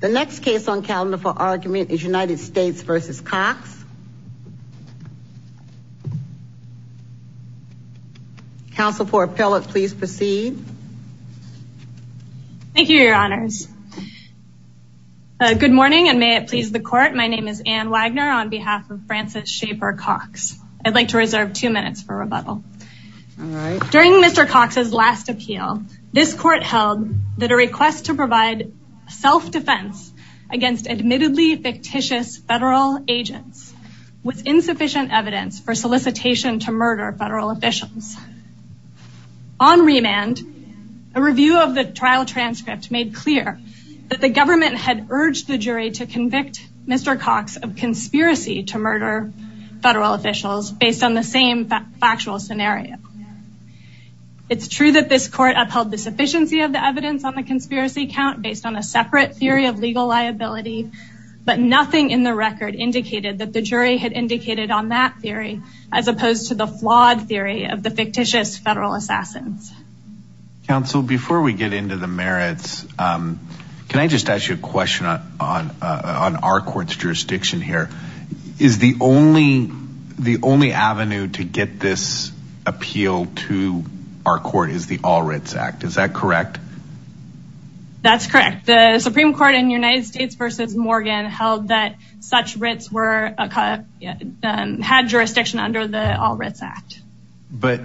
The next case on calendar for argument is United States v. Cox. Council for appellate please proceed. Thank you, your honors. Good morning and may it please the court. My name is Anne Wagner on behalf of Francis Shaper Cox. I'd like to reserve two minutes for rebuttal. During Mr. Cox's last appeal, this court held that a request to provide self-defense against admittedly fictitious federal agents was insufficient evidence for solicitation to murder federal officials. On remand, a review of the trial transcript made clear that the government had urged the jury to convict Mr. Cox of conspiracy to murder federal officials based on the same factual scenario. It's true that this court upheld the sufficiency of the evidence on the conspiracy count based on a separate theory of legal liability, but nothing in the record indicated that the jury had indicated on that theory as opposed to the flawed theory of the fictitious federal assassins. Council, before we get into the merits, can I just ask you a question on our court's to our court is the All Writs Act. Is that correct? That's correct. The Supreme Court in the United States versus Morgan held that such writs had jurisdiction under the All Writs Act. But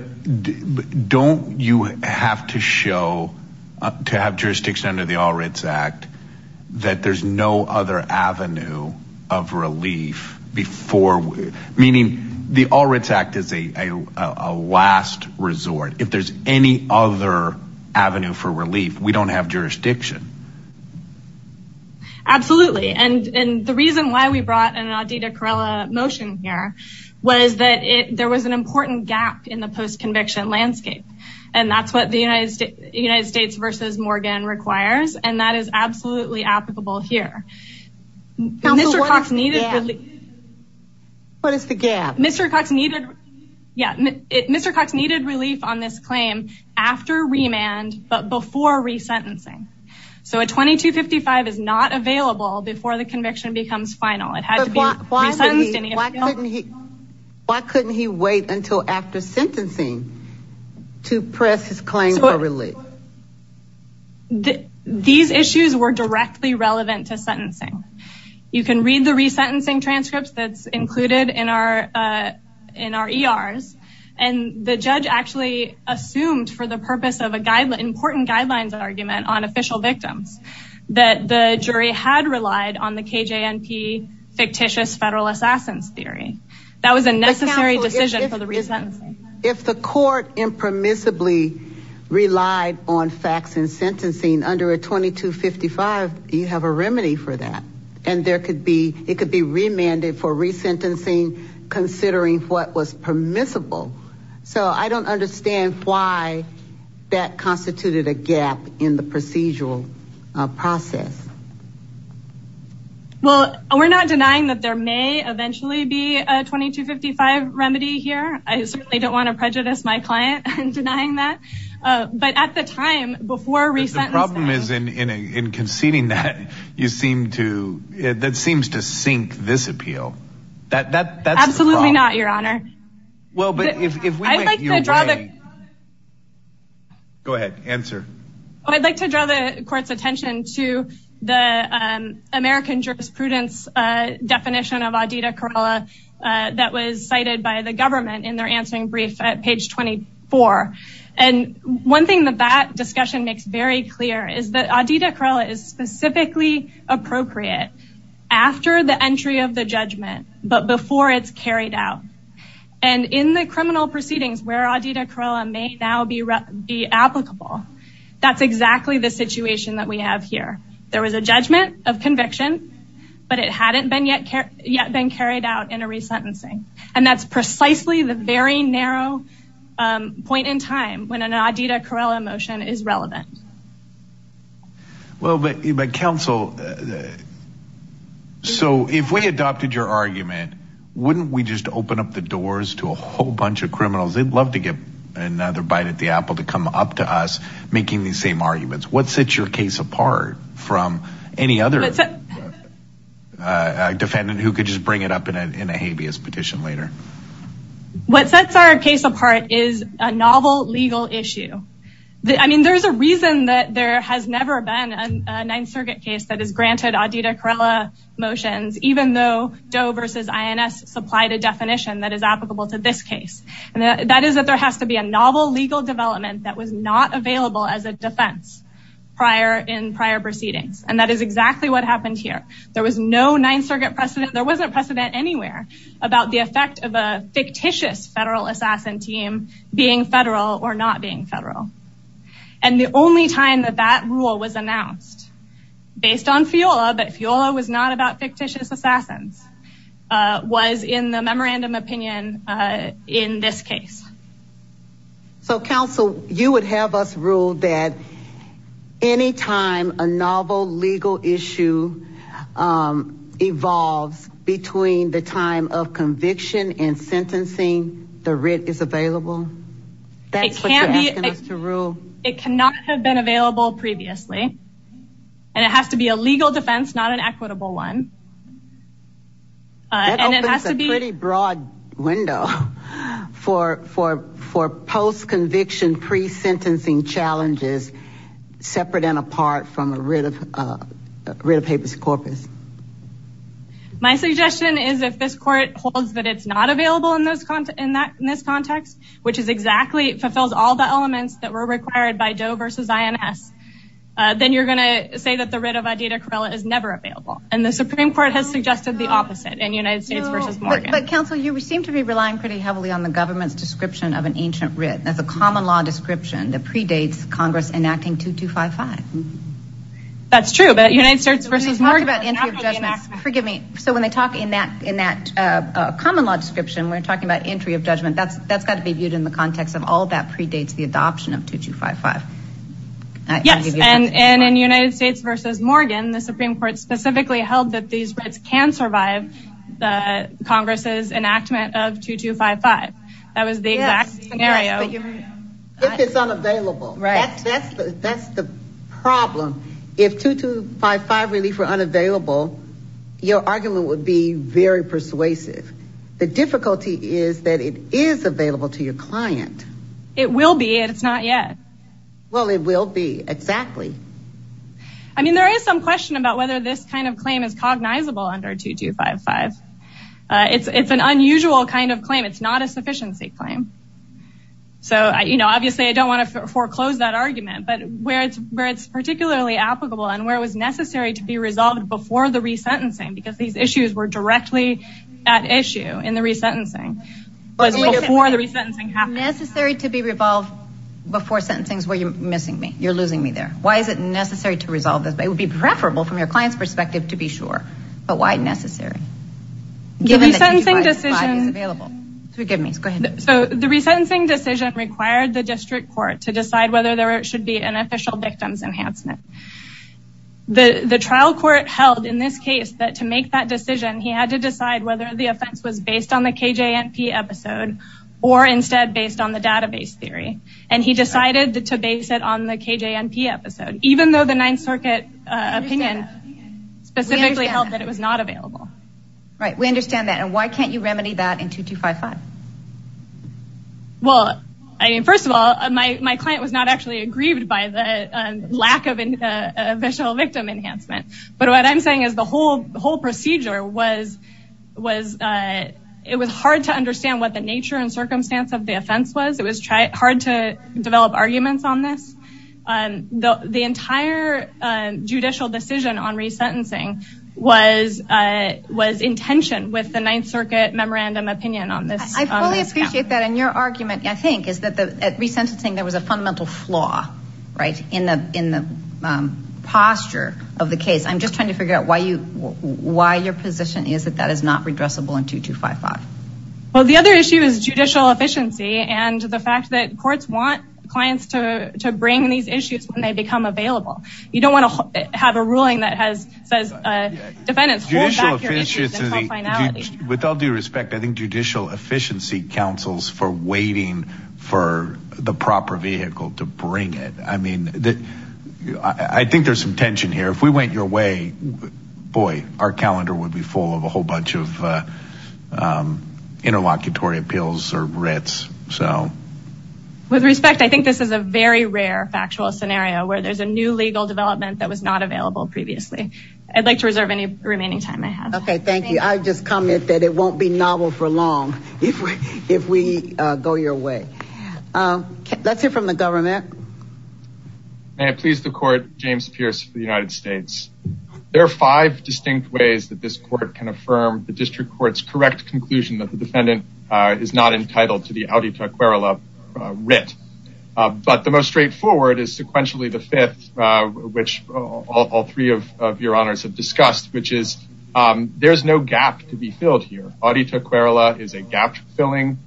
don't you have to show to have jurisdiction under the All Writs Act that there's no other avenue of relief before, meaning the All Writs Act is a last resort. If there's any other avenue for relief, we don't have jurisdiction. Absolutely. And the reason why we brought an Aditya Karela motion here was that there was an important gap in the post-conviction landscape. And that's what the United States versus Morgan requires. And that is absolutely applicable here. What is the gap? Mr. Cox needed relief on this claim after remand, but before resentencing. So a 2255 is not available before the conviction becomes final. Why couldn't he wait until after sentencing to press his claim for relief? These issues were directly relevant to sentencing. You can read the resentencing transcripts that's included in our ERs. And the judge actually assumed for the purpose of an important guidelines argument on official victims that the jury had relied on the KJNP fictitious federal assassins theory. That was a necessary decision for the resentencing. If the court impermissibly relied on facts and sentencing under a 2255, you have a remedy for that. And it could be remanded for resentencing considering what was permissible. So I don't understand why that constituted a gap in the procedural process. Well, we're not denying that there may eventually be a 2255 remedy here. I certainly don't want to prejudice my client in denying that. But at the time, before resentencing. The problem is in conceding that, that seems to sink this appeal. That's absolutely not your honor. Well, but if we like, go ahead, answer. I'd like to draw the court's attention to the American jurisprudence definition of Aditya Karela that was cited by the government in their answering brief at page 24. And one thing that that discussion makes very clear is that Aditya Karela is specifically appropriate after the entry of the judgment, but before it's carried out. And in the criminal proceedings where Aditya Karela may now be applicable, that's exactly the situation that we have here. There was a judgment of conviction, but it hadn't been yet been carried out in a resentencing. And that's precisely the very narrow point in time when an Aditya Karela motion is that. So if we adopted your argument, wouldn't we just open up the doors to a whole bunch of criminals? They'd love to get another bite at the apple to come up to us making these same arguments. What sets your case apart from any other defendant who could just bring it up in a habeas petition later? What sets our case apart is a novel legal issue. I mean, there's a reason that there has never been a Ninth Circuit case that has granted Aditya Karela motions, even though Doe versus INS supplied a definition that is applicable to this case. And that is that there has to be a novel legal development that was not available as a defense prior in prior proceedings. And that is exactly what happened here. There was no Ninth Circuit precedent. There wasn't precedent anywhere about the effect of a fictitious federal assassin team being federal or not being federal. And the only time that that rule was announced, based on FIOLA, but FIOLA was not about fictitious assassins, was in the memorandum opinion in this case. So counsel, you would have us rule that any time a novel legal issue evolves between the time of conviction and sentencing, the writ is available? That's what you're asking us to rule? It cannot have been available previously. And it has to be a legal defense, not an equitable one. And it has to be a pretty broad window for post-conviction pre-sentencing challenges, separate and apart from a writ of habeas corpus. My suggestion is if this court holds that it's not available in this context, which is exactly, it fulfills all the elements that were required by Doe versus INS, then you're going to say that the writ of idita corella is never available. And the Supreme Court has suggested the opposite in United States versus Morgan. But counsel, you seem to be relying pretty heavily on the government's description of an ancient writ as a common law description that predates Congress enacting 2255. That's true, but United States versus Morgan. Talking about entry of judgment, forgive me. So when they talk in that common law description, we're talking about entry of judgment. That's got to be viewed in the context of all that predates the adoption of 2255. Yes, and in United States versus Morgan, the Supreme Court specifically held that these writs can survive the Congress's enactment of 2255. That was the exact scenario. If it's unavailable, that's the problem. If 2255 relief were unavailable, your argument would be very persuasive. The difficulty is that it is available to your client. It will be, and it's not yet. Well, it will be, exactly. I mean, there is some question about whether this kind of claim is cognizable under 2255. It's an unusual kind of claim. It's not a sufficiency claim. Obviously, I don't want to foreclose that argument, but where it's particularly applicable and where it was necessary to be resolved before the resentencing, because these issues were directly at issue in the resentencing, was before the resentencing happened. Necessary to be revolved before sentencing is where you're missing me. You're losing me there. Why is it necessary to resolve this? It would be preferable from your client's perspective to be sure, but why necessary? Given that 2255 is available. The resentencing decision required the district court to decide whether there should be an official victims enhancement. The trial court held in this case that to make that decision, he had to decide whether the offense was based on the KJNP episode or instead based on the database theory. He decided to base it on the KJNP episode, even though the Ninth Circuit opinion specifically held that it was not available. Right. We understand that. And why can't you remedy that in 2255? Well, I mean, first of all, my client was not actually aggrieved by the lack of an official victim enhancement. But what I'm saying is the whole procedure was hard to understand what the nature and circumstance of the offense was. It was hard to develop arguments on this. The entire judicial decision on resentencing was in tension with the Ninth Circuit memorandum opinion on this. I fully appreciate that. And your argument, I think, is that at resentencing, there was a fundamental flaw in the posture of the case. I'm just trying to figure out why your position is that that is not redressable in 2255. Well, the other issue is judicial efficiency and the fact that courts want clients to bring these issues when they become available. You don't want to have a ruling that says defendants hold back your issues until finality. With all due respect, I think judicial efficiency counsels for waiting for the proper vehicle to bring it. I mean, I think there's some tension here. If we went your way, boy, our calendar would be full of a whole bunch of interlocutory appeals or writs. So. With respect, I think this is a very rare factual scenario where there's a new legal development that was not available previously. I'd like to reserve any remaining time I have. OK, thank you. I just comment that it won't be novel for long if we if we go your way. Let's hear from the government. May it please the court, James Pierce for the United States. There are five distinct ways that this court can affirm the district court's correct conclusion that the defendant is not entitled to the acquire a writ. But the most straightforward is sequentially the fifth, which all three of your honors have discussed, which is there's no gap to be filled here. Aditya Kerala is a gap filling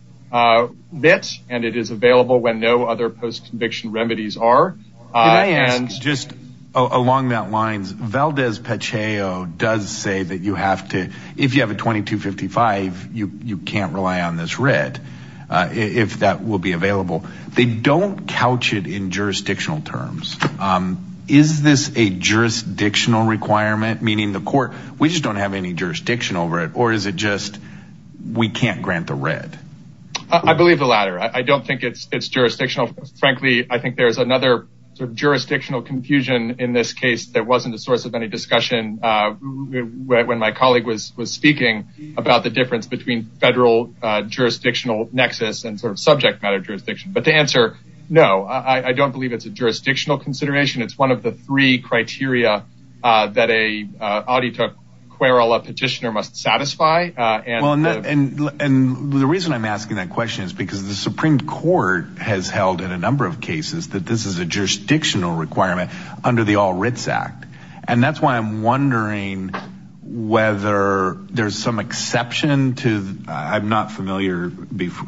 bit and it is available when no other post-conviction remedies are. And just along that lines, Valdez Pacheco does say that you have to if you have a twenty two fifty five, you can't rely on this writ if that will be available. They don't couch it in jurisdictional terms. Is this a jurisdictional requirement, meaning the court? We just don't have any jurisdiction over it, or is it just we can't grant the writ? I believe the latter. I don't think it's jurisdictional. Frankly, I think there's another jurisdictional confusion in this case that wasn't the source of any discussion when my colleague was speaking about the difference between federal jurisdictional nexus and sort of subject matter jurisdiction. But the answer, no, I don't believe it's a jurisdictional consideration. It's one of the three criteria that a Aditya Kerala petitioner must satisfy. And the reason I'm asking that question is because the Supreme Court has held in a number of cases that this is a jurisdictional requirement under the All Writs Act. And that's why I'm wondering whether there's some exception to. I'm not familiar.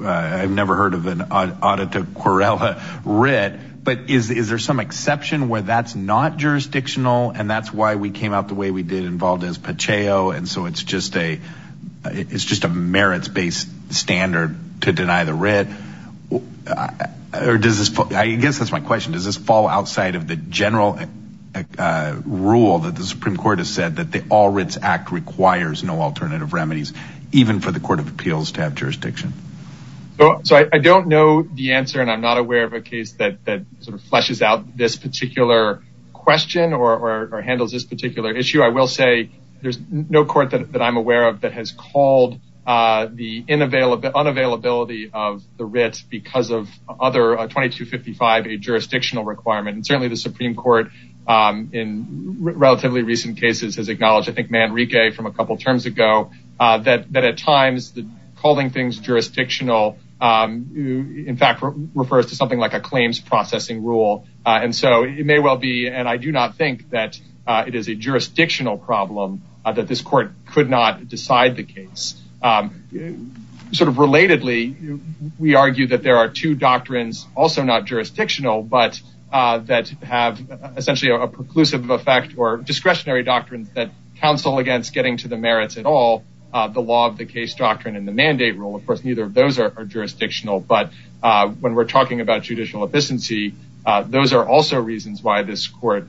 I've never heard of an Aditya Kerala writ. But is there some exception where that's not jurisdictional? And that's why we came out the way we did involved as Pacheco. And so it's just a it's just a merits based standard to deny the writ. Well, does this I guess that's my question. Does this fall outside of the general rule that the Supreme Court has said that the All Writs Act requires no alternative remedies, even for the Court of Appeals to have jurisdiction? So I don't know the answer. And I'm not aware of a case that sort of fleshes out this particular question or handles this particular issue. I will say there's no court that I'm aware of that has called the unavailability of the writ because of other 2255, a jurisdictional requirement. And certainly the Supreme Court in relatively recent cases has acknowledged, I think, Manrique from a couple of terms ago, that at times calling things jurisdictional, in fact, refers to something like a claims processing rule. And so it may well be. And I do not think that it is a jurisdictional problem that this court could not decide the case sort of relatedly. We argue that there are two doctrines also not jurisdictional, but that have essentially a preclusive effect or discretionary doctrines that counsel against getting to the merits at all the law of the case doctrine and the mandate rule. Of course, neither of those are jurisdictional. But when we're talking about judicial efficiency, those are also reasons why this court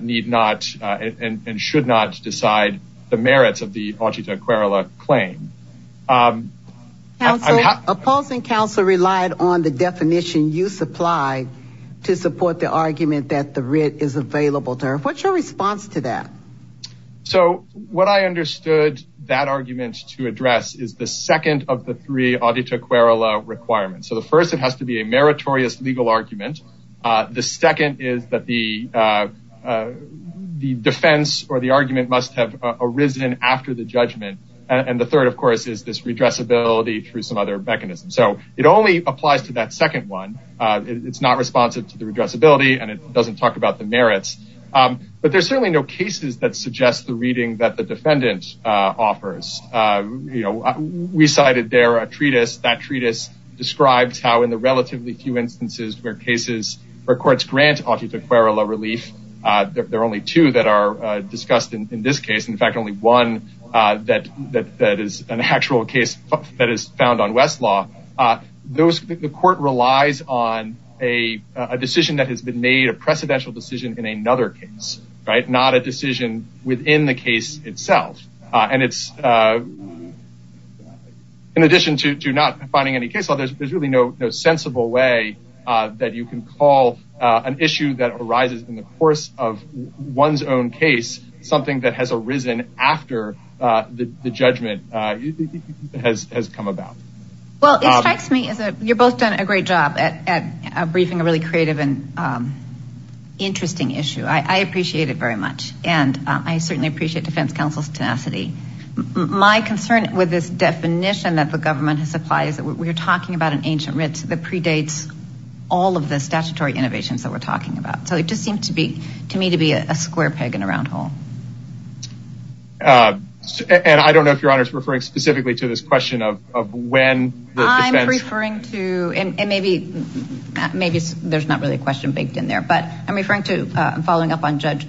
need not and should not decide the merits of the audit aquarela claim. Opposing counsel relied on the definition you supply to support the argument that the writ is available to her. What's your response to that? So what I understood that argument to address is the second of the three audit aquarela requirements. So the first, it has to be a meritorious legal argument. The second is that the defense or the argument must have arisen after the judgment. And the third, of course, is this redressability through some other mechanism. So it only applies to that second one. It's not responsive to the addressability and it doesn't talk about the merits. But there's certainly no cases that suggest the reading that the defendant offers. We cited there a treatise. That treatise describes how in the relatively few instances where courts grant audit aquarela relief, there are only two that are discussed in this case. In fact, only one that is an actual case that is found on Westlaw. The court relies on a decision that has been made, a precedential decision in another case. Not a decision within the case itself. And it's in addition to not finding any case law, there's really no sensible way that you can call an issue that arises in the course of one's own case something that has arisen after the judgment has come about. Well, it strikes me as you've both done a great job at briefing a really creative and interesting issue. I appreciate it very much. And I certainly appreciate defense counsel's tenacity. My concern with this definition that the government has applied is that we're talking about an ancient writ that predates all of the statutory innovations that we're talking about. So it just seemed to me to be a square peg in a round hole. And I don't know if your honor is referring specifically to this question of when the defense I'm referring to, and maybe there's not really a question baked in there, but I'm referring to, Judge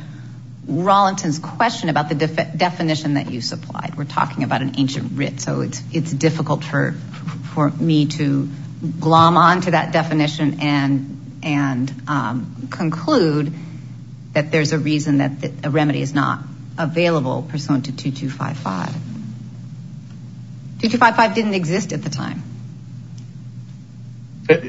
Rollenton's question about the definition that you supplied. We're talking about an ancient writ. So it's difficult for me to glom on to that definition and conclude that there's a reason that a remedy is not available pursuant to 2255. 2255 didn't exist at the time.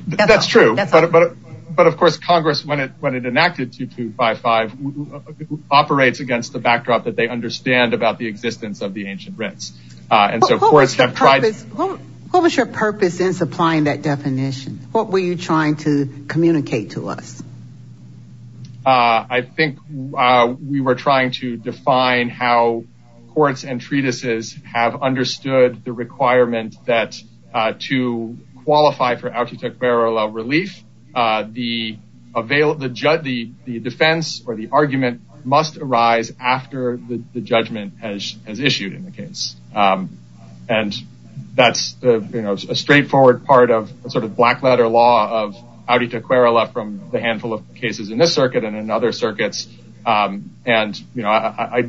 That's true. But of course, Congress, when it enacted 2255, operates against the backdrop that they understand about the existence of the ancient writs. And so courts have tried. What was your purpose in supplying that definition? What were you trying to communicate to us? I think we were trying to define how courts and treatises have understood the requirement that to qualify for autite querela relief, the defense or the argument must arise after the judgment has issued in the case. And that's a straightforward part of a sort of black letter law of autite querela from the handful of cases in this circuit and in other circuits. And I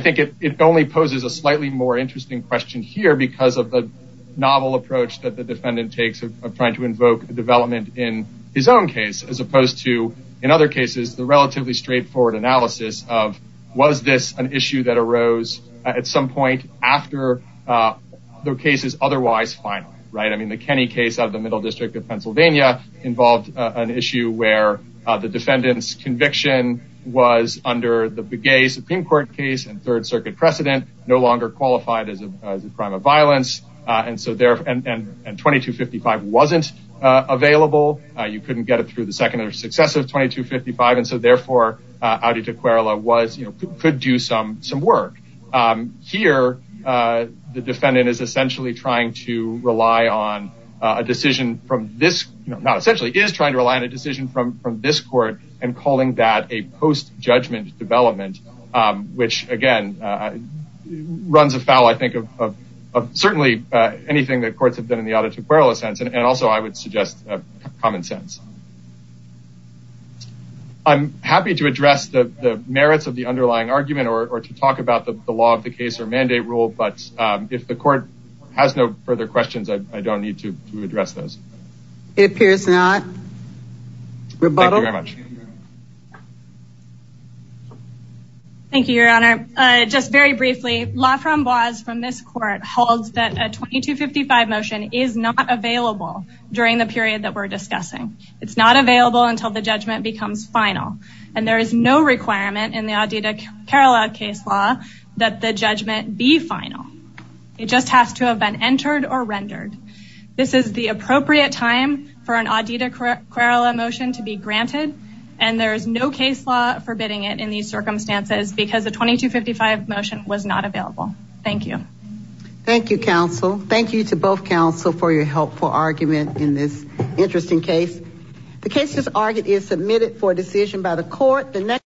think it only poses a slightly more interesting question here because of the novel approach that the defendant takes of trying to invoke development in his own case, as opposed to in other cases, the relatively straightforward analysis of was this an issue that arose at some point after the case is otherwise final, right? I mean, the Kenny case of the Middle District of Pennsylvania involved an issue where the defendant's conviction was under the Begay Supreme Court case and third circuit precedent, no longer qualified as a crime of violence. And 2255 wasn't available. You couldn't get it through the second or successive 2255. And so therefore, autite querela could do some work. Here, the defendant is essentially trying to rely on a decision from this, not essentially, is trying to rely on a decision from this court and calling that a post-judgment development, which, again, runs afoul, I think, of certainly anything that courts have done in the autite querela sense. And also, I would suggest common sense. I'm happy to address the merits of the underlying argument or to talk about the law of the case or mandate rule. But if the court has no further questions, I don't need to address those. It appears not. Thank you very much. Thank you, Your Honor. Just very briefly, La Framboise from this court holds that a 2255 motion is not available during the period that we're discussing. It's not available until the judgment becomes final. And there is no requirement in the autite querela case law that the judgment be final. It just has to have been entered or rendered. This is the appropriate time for an autite querela motion to be granted, and there is no case law forbidding it in these circumstances because the 2255 motion was not available. Thank you. Thank you, counsel. Thank you to both counsel for your helpful argument in this interesting case. The case as argued is submitted for decision by the court.